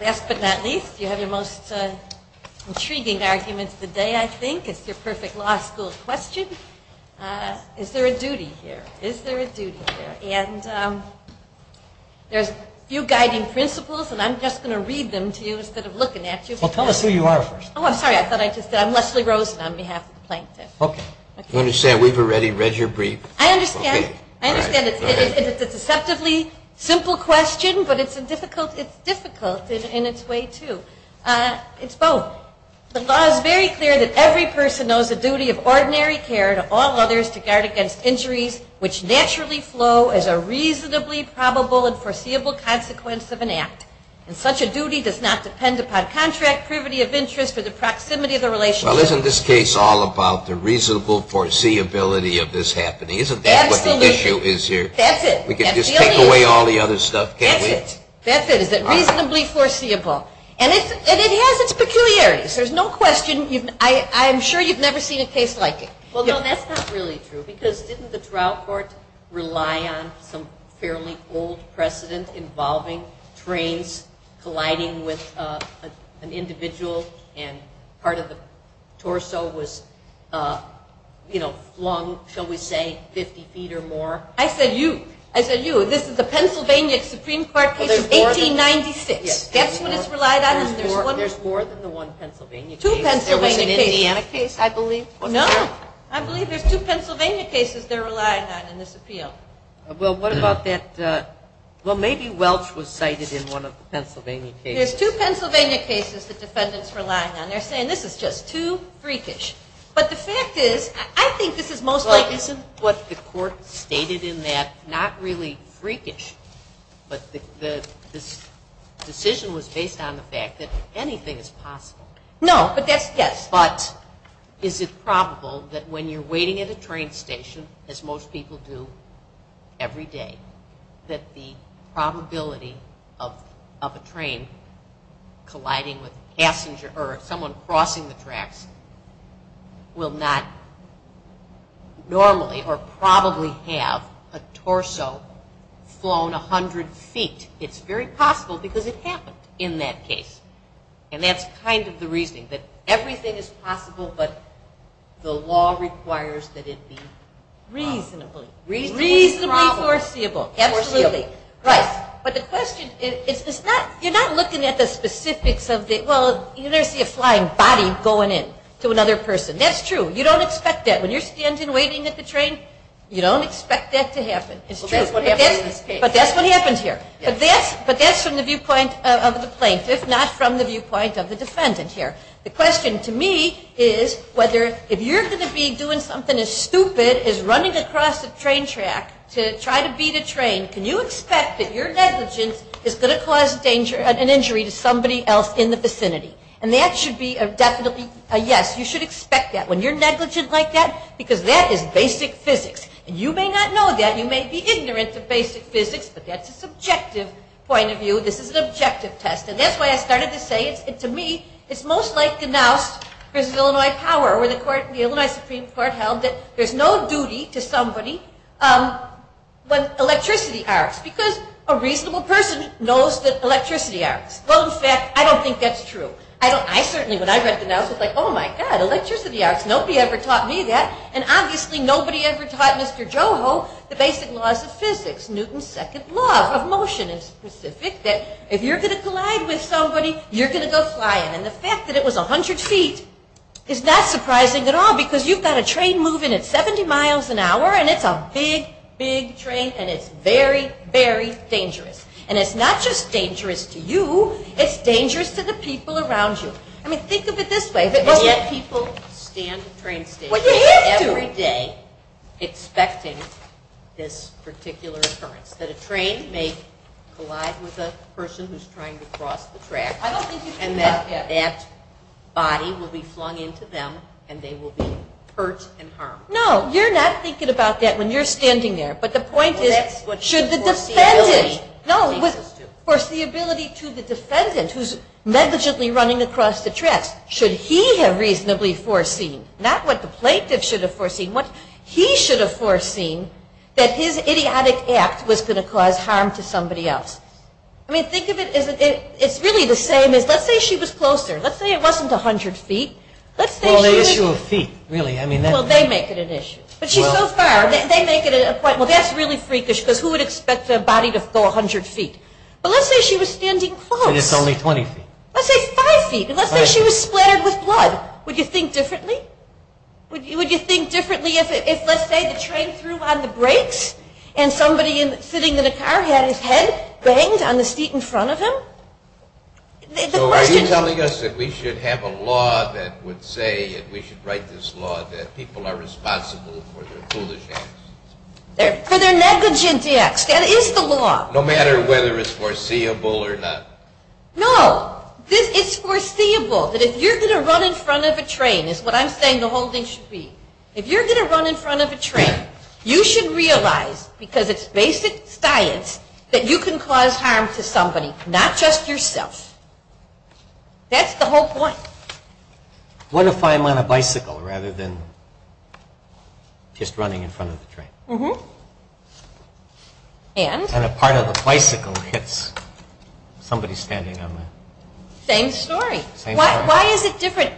Last but not least, you have your most intriguing argument of the day, I think, it's your perfect law school question. Is there a duty here? And there's a few guiding principles, and I'm just going to read them to you instead of looking at you. Well, tell us who you are first. Oh, I'm sorry, I thought I just did. I'm Leslie Rosen on behalf of the plaintiff. Okay. You understand we've already read your brief. I understand. I understand it's a deceptively simple question, but it's difficult in its way, too. It's both. The law is very clear that every person knows the duty of ordinary care to all others to guard against injuries which naturally flow as a reasonably probable and foreseeable consequence of an act. And such a duty does not depend upon contract, privity of interest, or the proximity of the relationship. Well, isn't this case all about the reasonable foreseeability of this happening? Isn't that what the issue is here? That's it. We can just take away all the other stuff, can't we? That's it. That's it. Is it reasonably foreseeable? And it has its peculiarities. There's no question. I'm sure you've never seen a case like it. Well, no, that's not really true because didn't the trial court rely on some fairly old precedent involving trains colliding with an individual and part of the torso was flung, shall we say, 50 feet or more? I said you. I said you. This is the Pennsylvania Supreme Court case of 1896. Guess what it's relied on? There's more than the one Pennsylvania case. Two Pennsylvania cases. There was an Indiana case, I believe. No. I believe there's two Pennsylvania cases they're relying on in this appeal. Well, what about that? Well, maybe Welch was cited in one of the Pennsylvania cases. There's two Pennsylvania cases the defendant's relying on. They're saying this is just too freakish. But the fact is, I think this is most likely... Well, isn't what the court stated in that not really freakish? But the decision was based on the fact that anything is possible. No, but that's, yes. But is it probable that when you're waiting at a train station, as most people do every day, that the probability of a train colliding with a passenger or someone crossing the tracks will not normally or probably have a torso flown 100 feet? It's very possible because it happened in that case. And that's kind of the reasoning, that everything is possible, but the law requires that it be... Reasonably. Reasonably foreseeable. Absolutely. Right. But the question is, it's not, you're not looking at the specifics of the, well, you never see a flying body going in to another person. That's true. You don't expect that. When you're standing waiting at the train, you don't expect that to happen. It's true. But that's what happens here. But that's from the viewpoint of the plaintiff, not from the viewpoint of the defendant here. The question to me is whether, if you're going to be doing something as stupid as running across a train track to try to beat a train, can you expect that your negligence is going to cause an injury to somebody else in the vicinity? And that should be a definite yes. You should expect that when you're negligent like that, because that is basic physics. And you may not know that. You may be ignorant of basic physics, but that's a subjective point of view. This is an objective test. And that's why I started to say it's, to me, it's most like the Knauss versus Illinois power, where the court, the Illinois Supreme Court held that there's no duty to somebody when electricity arcs, because a reasonable person knows that electricity arcs. Well, in fact, I don't think that's true. I don't, I certainly, when I read the Knauss, I was like, oh my God, electricity arcs. Nobody ever taught me that. And obviously, nobody ever taught Mr. Joho the basic laws of physics, Newton's second law of motion in specific, that if you're going to collide with somebody, you're going to go flying. And the fact that it was 100 feet is not surprising at all, because you've got a train moving at 70 miles an hour, and it's a big, big train, and it's very, very dangerous. And it's not just dangerous to you, it's dangerous to the people around you. I mean, think of it this way. And yet people stand at train stations every day expecting this particular occurrence, that a train may collide with a person who's trying to cross the track, and that that body will be flung into them, and they will be hurt and harmed. No, you're not thinking about that when you're standing there. But the point is, should the defendant, no, was, the ability to the defendant, who's negligently running across the tracks, should he have reasonably foreseen, not what the plaintiff should have foreseen, what he should have foreseen, that his idiotic act was going to cause harm to somebody else. I mean, think of it as, it's really the same as, let's say she was closer. Let's say it wasn't 100 feet. Let's say she was- Well, the issue of feet, really. I mean, that- Well, they make it an issue. But she's so far, they make it a point. Well, that's really freakish, because who would expect their body to go 100 feet? But let's say she was standing close. And it's only 20 feet. Let's say 5 feet. And let's say she was splattered with blood. Would you think differently? Would you think differently if, let's say, the train threw on the brakes, and somebody sitting in the car had his head banged on the seat in front of him? So are you telling us that we should have a law that would say that we should write this law that people are responsible for their foolish acts? For their negligent acts. That is the law. No matter whether it's foreseeable or not. No. It's foreseeable that if you're going to run in front of a train, is what I'm saying the whole thing should be, if you're going to run in front of a train, you should realize, because it's basic science, that you can cause harm to somebody, not just yourself. That's the whole point. What if I'm on a bicycle rather than just running in front of the train? Mm-hmm. And? And a part of the bicycle hits somebody standing on it. Same story. Same story. Why is it different?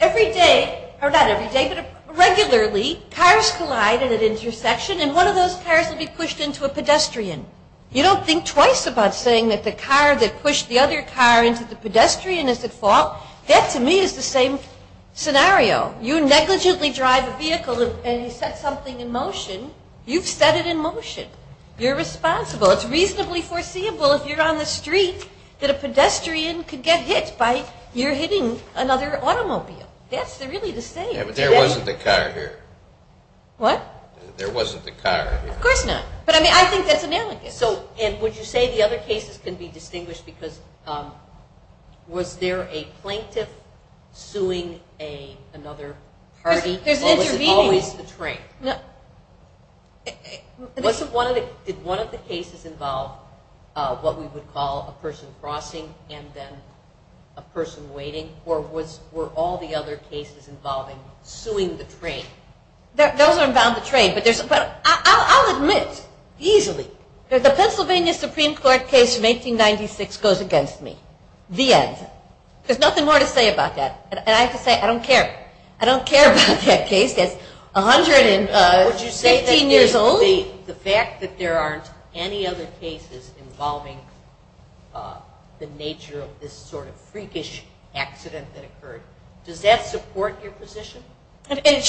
Every day, or not every day, but regularly, cars collide at an intersection, and one of those cars will be pushed into a pedestrian. You don't think twice about saying that the car that pushed the other car into the pedestrian is at fault. That, to me, is the same scenario. You negligently drive a vehicle and you set something in motion. You've set it in motion. You're responsible. It's reasonably foreseeable if you're on the street that a pedestrian could get hit by your hitting another automobile. That's really the same. Yeah, but there wasn't a car here. What? There wasn't a car here. Of course not. But, I mean, I think that's analogous. And would you say the other cases can be distinguished because was there a plaintiff suing another party, or was it always the train? Did one of the cases involve what we would call a person crossing and then a person waiting, or were all the other cases involving suing the train? Those are about the train. I'll admit easily that the Pennsylvania Supreme Court case from 1896 goes against me. The end. There's nothing more to say about that. And I have to say I don't care. I don't care about that case that's 115 years old. Would you say that the fact that there aren't any other cases involving the nature of this sort of freakish accident that occurred, does that support your position? It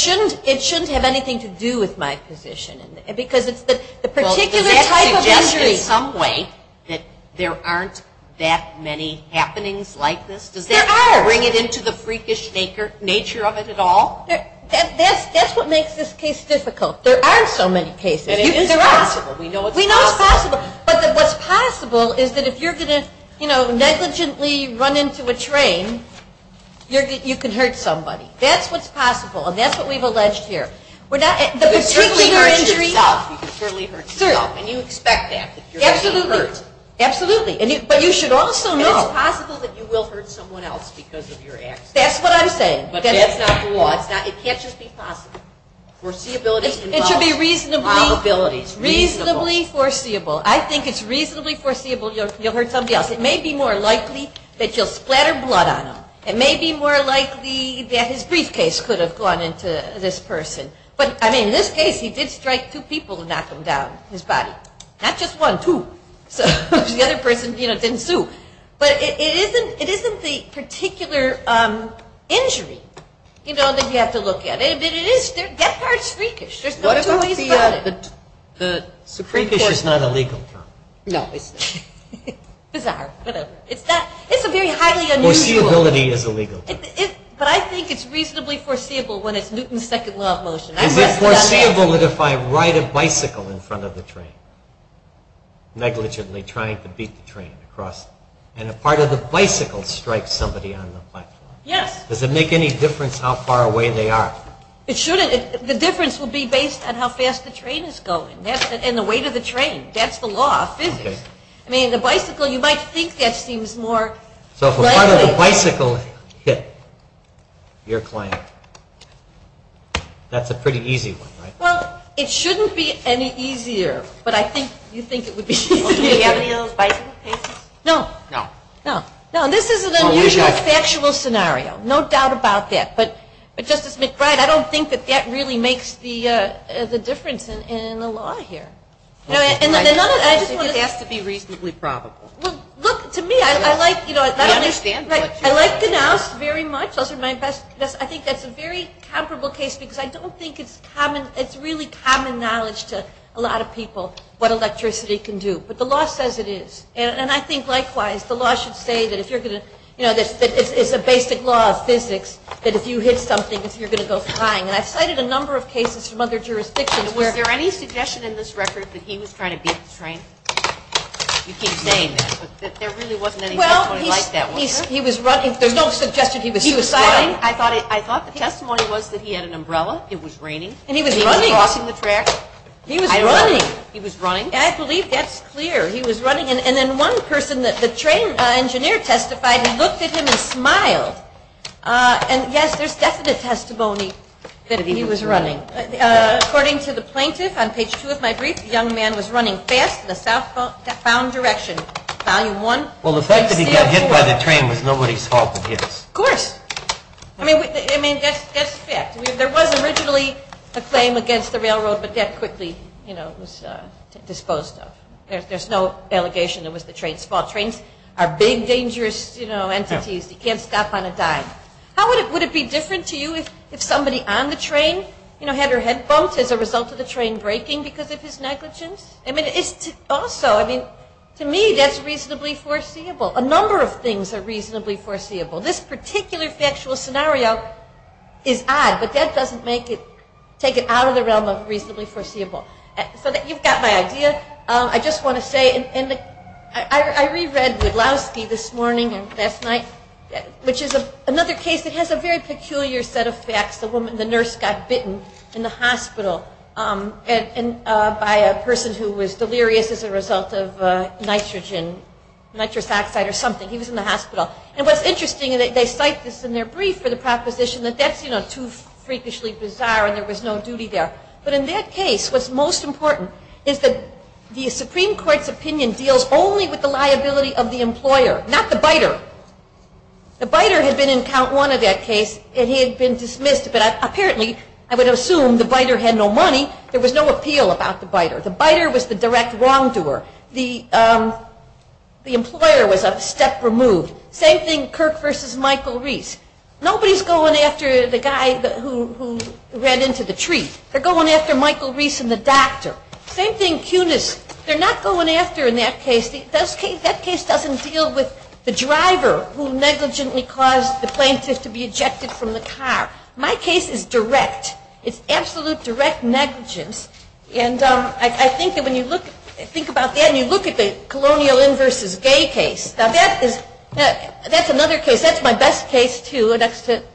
shouldn't have anything to do with my position because it's the particular type of injury. Well, does that suggest in some way that there aren't that many happenings like this? There are. Does that bring it into the freakish nature of it at all? That's what makes this case difficult. There aren't so many cases. There are. And it is possible. We know it's possible. We know it's possible. But what's possible is that if you're going to, you know, negligently run into a train, you can hurt somebody. That's what's possible. And that's what we've alleged here. You could certainly hurt yourself. And you expect that. Absolutely. You're going to be hurt. Absolutely. But you should also know. And it's possible that you will hurt someone else because of your accident. That's what I'm saying. But that's not the law. It can't just be possible. Foreseeability involves probabilities. It should be reasonably foreseeable. I think it's reasonably foreseeable you'll hurt somebody else. It may be more likely that you'll splatter blood on them. It may be more likely that his briefcase could have gone into this person. But, I mean, in this case he did strike two people and knock them down, his body. Not just one, two. So the other person, you know, didn't sue. But it isn't the particular injury, you know, that you have to look at. It is death by a sphreakish. There's no two ways about it. What about the supreme court? Spreakish is not a legal term. No, it's not. Bizarre. Whatever. It's a very highly unusual. Foreseeability is a legal term. But I think it's reasonably foreseeable when it's Newton's second law of motion. Is it foreseeable that if I ride a bicycle in front of the train, negligently trying to beat the train across, and a part of the bicycle strikes somebody on the platform? Yes. Does it make any difference how far away they are? It shouldn't. The difference will be based on how fast the train is going and the weight of the train. That's the law of physics. I mean, the bicycle, you might think that seems more likely. So if a part of the bicycle hit your client, that's a pretty easy one, right? Well, it shouldn't be any easier, but I think you think it would be easier. Do you have any of those bicycle cases? No. No. No, this is an unusual factual scenario. No doubt about that. But, Justice McBride, I don't think that that really makes the difference in the law here. It has to be reasonably probable. Well, look, to me, I like Ganouse very much. I think that's a very comparable case because I don't think it's common. It's really common knowledge to a lot of people what electricity can do. But the law says it is. And I think, likewise, the law should say that it's a basic law of physics that if you hit something, you're going to go flying. And I've cited a number of cases from other jurisdictions. Is there any suggestion in this record that he was trying to beat the train? You keep saying that, but there really wasn't any testimony like that, was there? Well, he was running. There's no suggestion he was superseding. I thought the testimony was that he had an umbrella. It was raining. And he was running. He was crossing the track. He was running. He was running. I believe that's clear. He was running. And then one person, the train engineer testified, he looked at him and smiled. And, yes, there's definite testimony that he was running. According to the plaintiff, on page 2 of my brief, the young man was running fast in the southbound direction, volume 1. Well, the fact that he got hit by the train was nobody's fault but his. Of course. I mean, that's a fact. There was originally a claim against the railroad, but that quickly was disposed of. There's no allegation it was the train's fault. Trains are big, dangerous entities. You can't stop on a dime. Would it be different to you if somebody on the train had their head bumped as a result of the train breaking because of his negligence? I mean, also, to me, that's reasonably foreseeable. A number of things are reasonably foreseeable. This particular factual scenario is odd, but that doesn't take it out of the realm of reasonably foreseeable. So you've got my idea. I just want to say, and I reread Wudlowski this morning and last night, which is another case that has a very peculiar set of facts. The nurse got bitten in the hospital by a person who was delirious as a result of nitrogen, nitrous oxide or something. He was in the hospital. And what's interesting, they cite this in their brief for the proposition that that's too freakishly bizarre and there was no duty there. But in that case, what's most important is that the Supreme Court's opinion deals only with the liability of the employer, not the biter. The biter had been in count one of that case, and he had been dismissed. But apparently, I would assume the biter had no money. There was no appeal about the biter. The biter was the direct wrongdoer. The employer was a step removed. Same thing, Kirk versus Michael Reese. Nobody's going after the guy who ran into the tree. They're going after Michael Reese and the doctor. Same thing, Kunis. They're not going after, in that case, that case doesn't deal with the driver who negligently caused the plaintiff to be ejected from the car. My case is direct. It's absolute direct negligence. And I think that when you think about that, and you look at the Colonial Inn versus Gay case, that's another case. That's my best case, too. The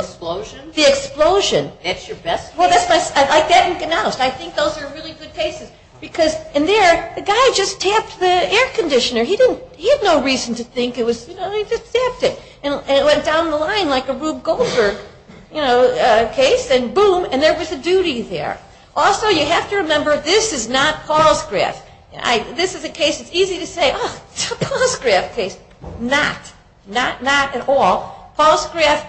explosion? The explosion. That's your best case? I think those are really good cases because in there, the guy just tapped the air conditioner. He had no reason to think it was, you know, he just tapped it. And it went down the line like a Rube Goldberg, you know, case. And boom, and there was a duty there. Also, you have to remember, this is not Palsgraf. This is a case, it's easy to say, oh, it's a Palsgraf case. Not. Not, not at all. Palsgraf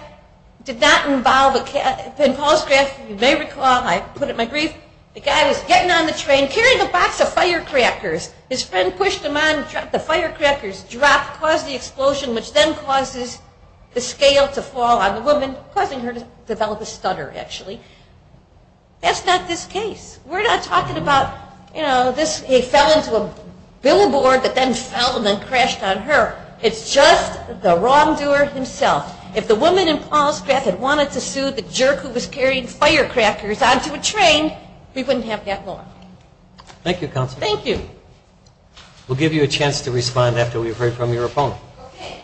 did not involve, in Palsgraf, you may recall, I put it in my brief, the guy was getting on the train, carrying a box of firecrackers. His friend pushed him on, dropped the firecrackers, dropped, caused the explosion, which then causes the scale to fall on the woman, causing her to develop a stutter, actually. That's not this case. We're not talking about, you know, this, he fell into a billboard that then fell and then crashed on her. It's just the wrongdoer himself. We wouldn't have that law. Thank you, Counselor. Thank you. We'll give you a chance to respond after we've heard from your opponent. Okay.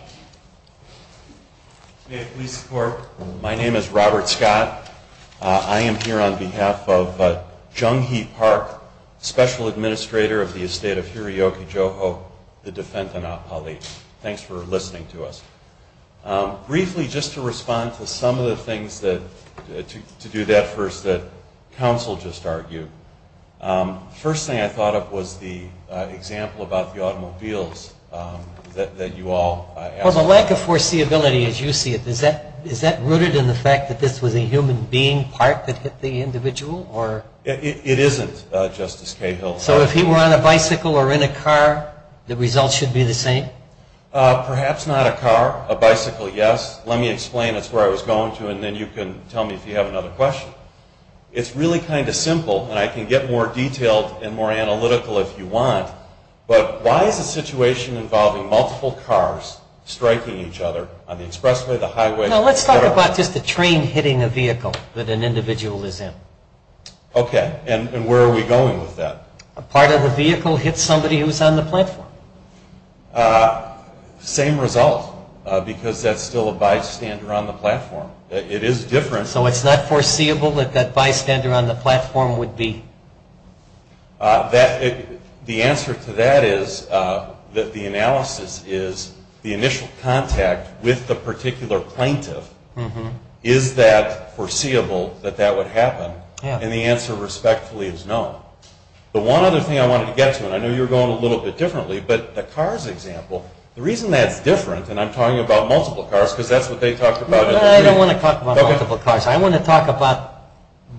May I have police support? My name is Robert Scott. I am here on behalf of Jung Hee Park, Special Administrator of the Estate of Hiroyuki Joho, the defendant, and our colleague. Thanks for listening to us. Briefly, just to respond to some of the things that, to do that first that Counsel just argued. First thing I thought of was the example about the automobiles that you all Well, the lack of foreseeability, as you see it, is that rooted in the fact that this was a human being, part that hit the individual, or? It isn't, Justice Cahill. So if he were on a bicycle or in a car, the results should be the same? Perhaps not a car. A bicycle, yes. Let me explain. That's where I was going to, and then you can tell me if you have another question. It's really kind of simple, and I can get more detailed and more analytical if you want, but why is a situation involving multiple cars striking each other on the expressway, the highway? Let's talk about just a train hitting a vehicle that an individual is in. Okay. And where are we going with that? A part of the vehicle hits somebody who's on the platform. Same result, because that's still a bystander on the platform. It is different. So it's not foreseeable that that bystander on the platform would be? The answer to that is that the analysis is the initial contact with the particular plaintiff. Is that foreseeable that that would happen? And the answer respectfully is no. The one other thing I wanted to get to, and I know you were going a little bit differently, but the cars example, the reason that's different, and I'm talking about multiple cars because that's what they talked about. No, I don't want to talk about multiple cars. I want to talk about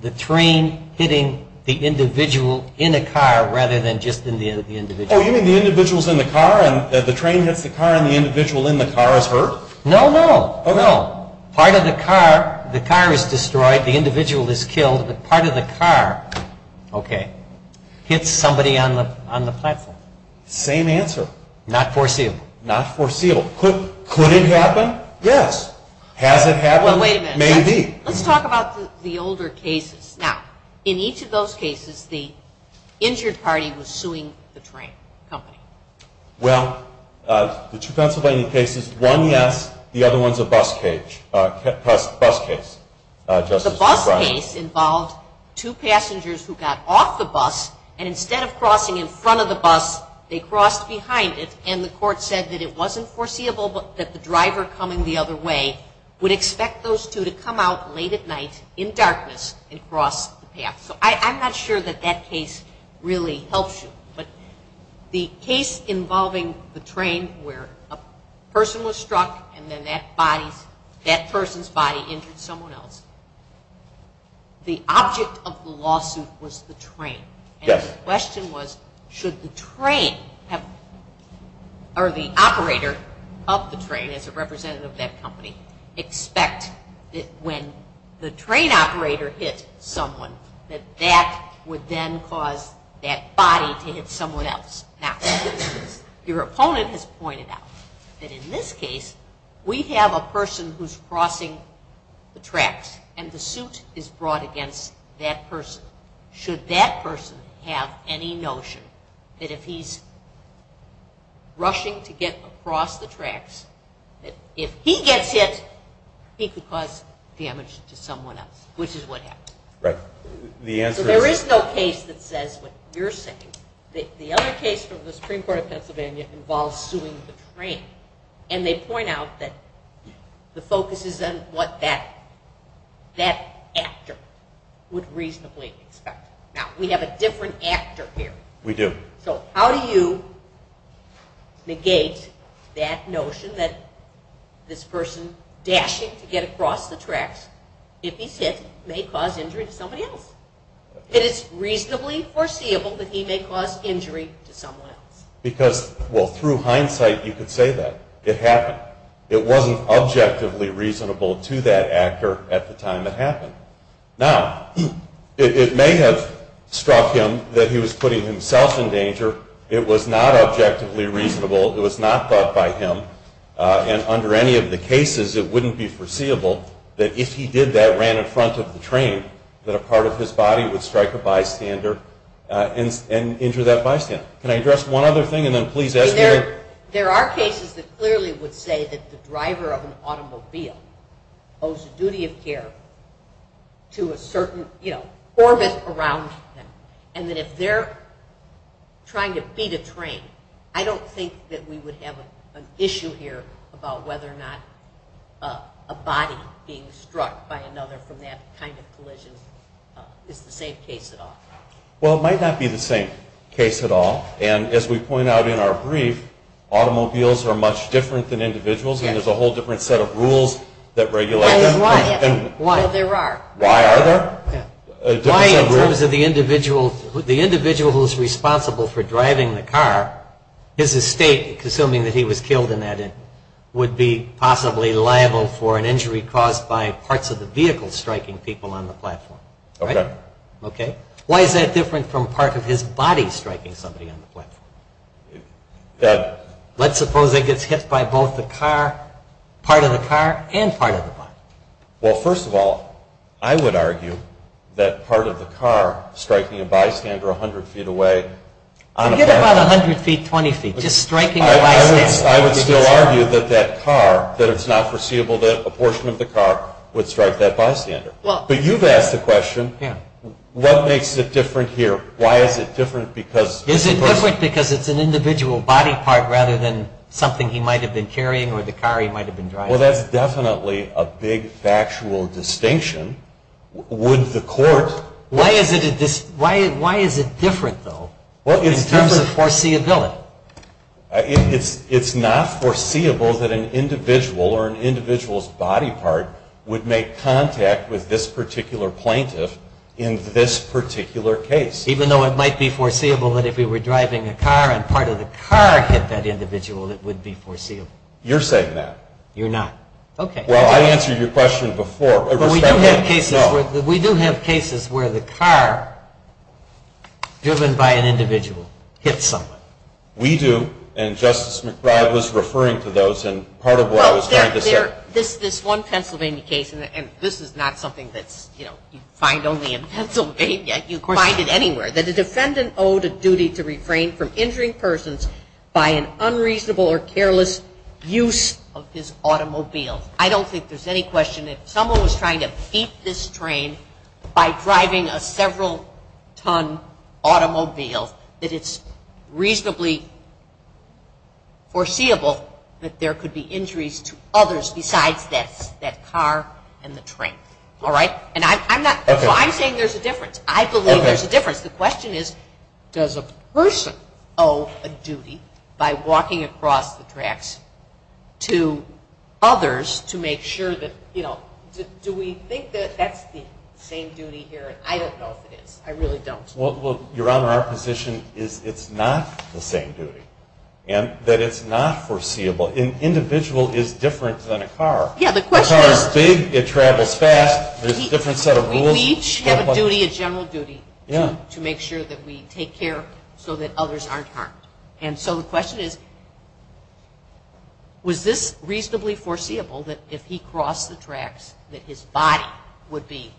the train hitting the individual in a car rather than just in the individual. Oh, you mean the individual's in the car and the train hits the car and the individual in the car is hurt? No, no. Oh, no. Part of the car, the car is destroyed, the individual is killed, but part of the car, okay, hits somebody on the platform. Same answer. Not foreseeable. Not foreseeable. Could it happen? Yes. Has it happened? Well, wait a minute. Maybe. Let's talk about the older cases. Now, in each of those cases, the injured party was suing the train company. Well, the two Pennsylvania cases, one yes, the other one is a bus case. The bus case involved two passengers who got off the bus, and instead of crossing in front of the bus, they crossed behind it, and the court said that it wasn't foreseeable that the driver coming the other way would expect those two to come out late at night in darkness and cross the path. So I'm not sure that that case really helps you, but the case involving the train where a person was struck and then that person's body injured someone else, the object of the lawsuit was the train. Yes. And the question was should the train or the operator of the train, as a representative of that company, expect that when the train operator hit someone that that would then cause that body to hit someone else. Now, your opponent has pointed out that in this case, we have a person who's crossing the tracks, and the suit is brought against that person. Should that person have any notion that if he's rushing to get across the tracks, that if he gets hit, he could cause damage to someone else, which is what happened. Right. So there is no case that says what you're saying. The other case from the Supreme Court of Pennsylvania involves suing the train, and they point out that the focus is on what that actor would reasonably expect. Now, we have a different actor here. We do. So how do you negate that notion that this person dashing to get across the tracks, if he's hit, may cause injury to somebody else? It is reasonably foreseeable that he may cause injury to someone else. Because, well, through hindsight, you could say that. It happened. It wasn't objectively reasonable to that actor at the time it happened. Now, it may have struck him that he was putting himself in danger. It was not objectively reasonable. It was not thought by him, and under any of the cases, it wouldn't be foreseeable that if he did that, ran in front of the train, that a part of his body would strike a bystander and injure that bystander. Can I address one other thing, and then please ask the other? There are cases that clearly would say that the driver of an automobile owes a duty of care to a certain orbit around them, and that if they're trying to beat a train, I don't think that we would have an issue here about whether or not a body being struck by another from that kind of collision is the same case at all. Well, it might not be the same case at all, and as we point out in our brief, automobiles are much different than individuals, and there's a whole different set of rules that regulate them. Why is that? Well, there are. Why are there? Why, in terms of the individual who's responsible for driving the car, his estate, assuming that he was killed in that, would be possibly liable for an injury caused by parts of the vehicle striking people on the platform. Okay. Okay? Why is that different from part of his body striking somebody on the platform? Let's suppose that gets hit by both the car, part of the car and part of the body. Well, first of all, I would argue that part of the car striking a bystander 100 feet away. Forget about 100 feet, 20 feet. Just striking a bystander. I would still argue that that car, that it's not foreseeable that a portion of the car would strike that bystander. But you've asked the question, what makes it different here? Why is it different? Is it different because it's an individual body part rather than something he might have been carrying or the car he might have been driving? Well, that's definitely a big factual distinction. Would the court? Why is it different, though, in terms of foreseeability? Well, it's not foreseeable that an individual or an individual's body part would make contact with this particular plaintiff in this particular case. Even though it might be foreseeable that if he were driving a car and part of the car hit that individual, it would be foreseeable. You're saying that. You're not. Okay. Well, I answered your question before. We do have cases where the car driven by an individual hits someone. We do. And Justice McBride was referring to those. And part of what I was trying to say. This one Pennsylvania case, and this is not something that you find only in Pennsylvania. You find it anywhere. That a defendant owed a duty to refrain from injuring persons by an unreasonable or careless use of his automobile. I don't think there's any question that if someone was trying to beat this train by driving a several ton automobile, that it's reasonably foreseeable that there could be injuries to others besides that car and the train. All right? I'm saying there's a difference. I believe there's a difference. The question is does a person owe a duty by walking across the tracks to others to make sure that, you know, do we think that that's the same duty here? I don't know if it is. I really don't. Well, Your Honor, our position is it's not the same duty. And that it's not foreseeable. An individual is different than a car. Yeah, the question is. A car is big. It travels fast. There's a different set of rules. We each have a duty, a general duty. Yeah. To make sure that we take care so that others aren't harmed. And so the question is, was this reasonably foreseeable that if he crossed the tracks that his body would be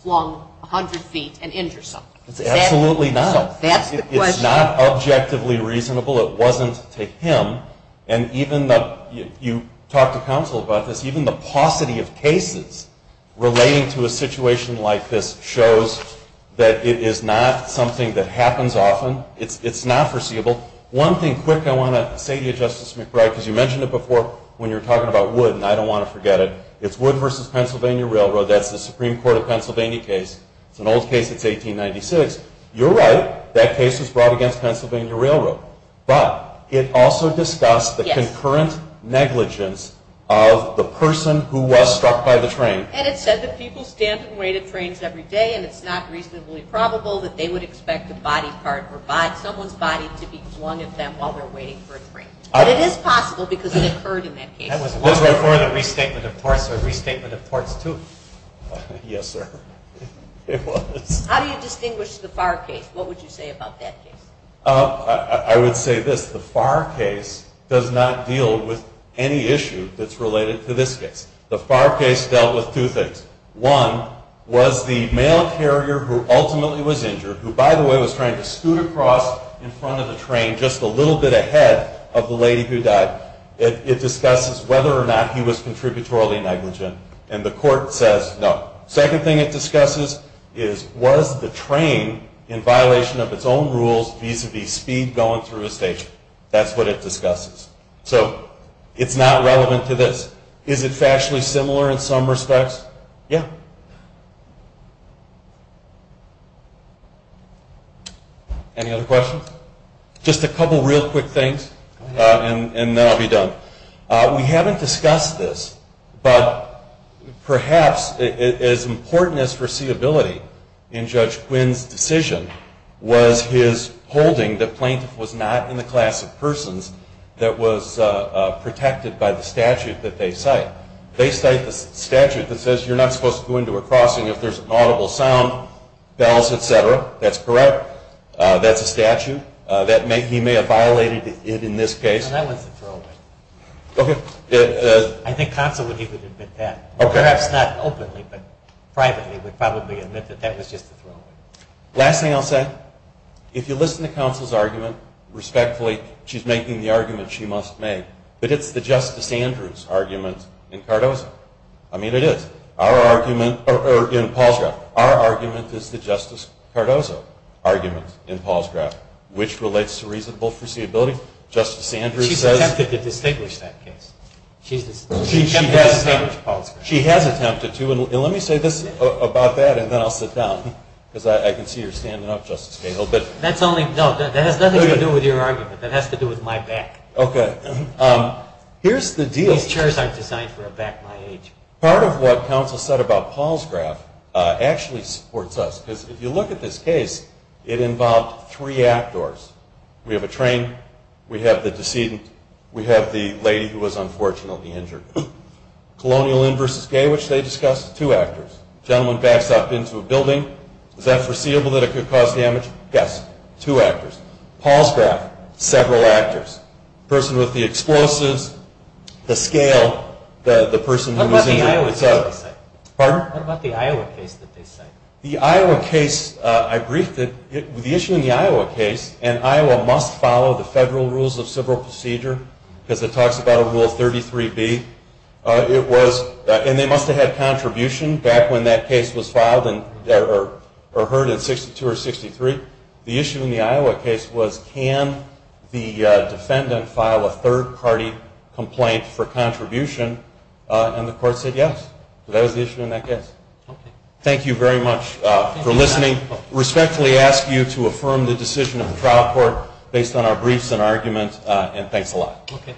flung 100 feet and injure someone? It's absolutely not. So that's the question. It's not objectively reasonable. It wasn't to him. And even though you talked to counsel about this, even the paucity of cases relating to a situation like this shows that it is not something that happens often. It's not foreseeable. One thing quick I want to say to you, Justice McBride, because you mentioned it before when you were talking about Wood, and I don't want to forget it. It's Wood v. Pennsylvania Railroad. That's the Supreme Court of Pennsylvania case. It's an old case. It's 1896. You're right. That case was brought against Pennsylvania Railroad. But it also discussed the concurrent negligence of the person who was struck by the train. And it said that people stand and wait at trains every day, and it's not reasonably probable that they would expect a body part or someone's body to be flung at them while they're waiting for a train. But it is possible because it occurred in that case. That was once before the restatement of torts, so a restatement of torts, too. Yes, sir. It was. How do you distinguish the Farr case? What would you say about that case? I would say this. The Farr case does not deal with any issue that's related to this case. The Farr case dealt with two things. One was the male carrier who ultimately was injured, who, by the way, was trying to scoot across in front of the train just a little bit ahead of the lady who died. It discusses whether or not he was contributorily negligent, and the court says no. Second thing it discusses is was the train in violation of its own rules vis-à-vis speed going through a station. That's what it discusses. So it's not relevant to this. Is it factually similar in some respects? Yeah. Any other questions? Just a couple real quick things, and then I'll be done. We haven't discussed this, but perhaps as important as foreseeability in Judge Quinn's decision was his holding that plaintiff was not in the class of persons that was protected by the statute that they cite. They cite the statute that says you're not supposed to go into a crossing if there's an audible sound, bells, etc. That's correct. That's a statute. He may have violated it in this case. No, that one's a throwaway. Okay. I think counsel would even admit that. Perhaps not openly, but privately would probably admit that that was just a throwaway. Last thing I'll say, if you listen to counsel's argument, respectfully, she's making the argument she must make, but it's the Justice Andrews argument in Cardozo. I mean, it is. Our argument in Paul's draft. Our argument is the Justice Cardozo argument in Paul's draft, which relates to reasonable foreseeability. She's attempted to distinguish that case. She has attempted to, and let me say this about that, and then I'll sit down, because I can see you're standing up, Justice Cahill. That has nothing to do with your argument. That has to do with my back. Okay. These chairs aren't designed for a back my age. Part of what counsel said about Paul's draft actually supports us, because if you look at this case, it involved three outdoors. We have a train. We have the decedent. We have the lady who was unfortunately injured. Colonial in versus gay, which they discussed, two actors. Gentleman backs up into a building. Is that foreseeable that it could cause damage? Yes. Two actors. Paul's draft, several actors. Person with the explosives, the scale, the person who was injured. Pardon? What about the Iowa case that they cite? The Iowa case, I briefed it. The issue in the Iowa case, and Iowa must follow the federal rules of civil procedure, because it talks about a rule 33B. It was, and they must have had contribution back when that case was filed or heard in 62 or 63. The issue in the Iowa case was can the defendant file a third-party complaint for contribution, and the court said yes. That was the issue in that case. Okay. Thank you very much for listening. I respectfully ask you to affirm the decision of the trial court based on our briefs and arguments, and thanks a lot. Okay.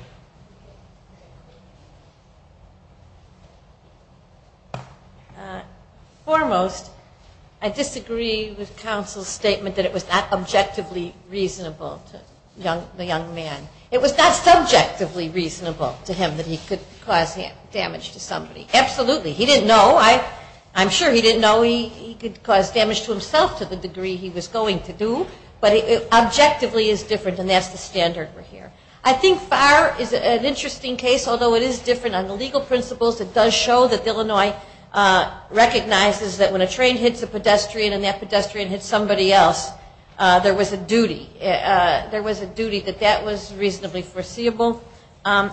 Foremost, I disagree with counsel's statement that it was not objectively reasonable to the young man. It was not subjectively reasonable to him that he could cause damage to somebody. Absolutely. He didn't know. I'm sure he didn't know he could cause damage to himself to the degree he was going to do, but it objectively is different, and that's the standard we're here. I think Farr is an interesting case, although it is different on the legal principles. It does show that Illinois recognizes that when a train hits a pedestrian and that pedestrian hits somebody else, there was a duty. There was a duty that that was reasonably foreseeable.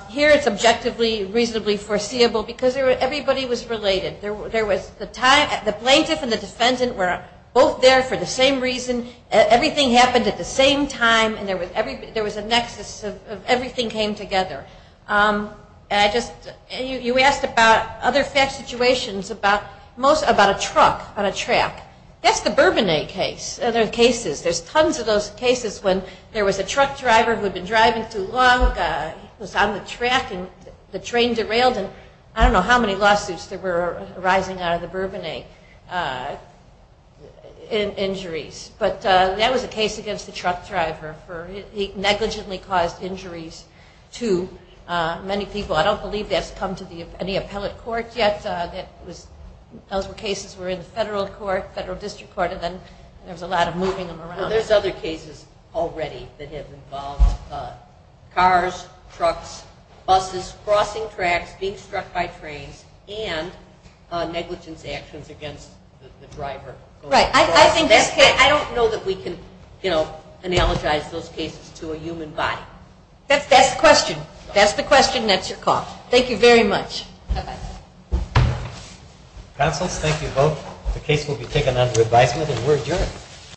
Here it's objectively reasonably foreseeable because everybody was related. The plaintiff and the defendant were both there for the same reason. Everything happened at the same time, and there was a nexus. Everything came together. You asked about other fat situations, about a truck on a track. That's the Bourbonnais case. There's tons of those cases when there was a truck driver who had been driving too long, was on the track, and the train derailed, and I don't know how many lawsuits that were arising out of the Bourbonnais injuries, but that was a case against the truck driver. He negligently caused injuries to many people. I don't believe that's come to any appellate court yet. Those cases were in the federal court, federal district court, and then there was a lot of moving them around. There's other cases already that have involved cars, trucks, buses crossing tracks, being struck by trains, and negligence actions against the driver. Right. I don't know that we can analogize those cases to a human body. That's the question. That's the question, and that's your call. Thank you very much. Bye-bye. Counsels, thank you both. The case will be taken under advisement, and we're adjourned.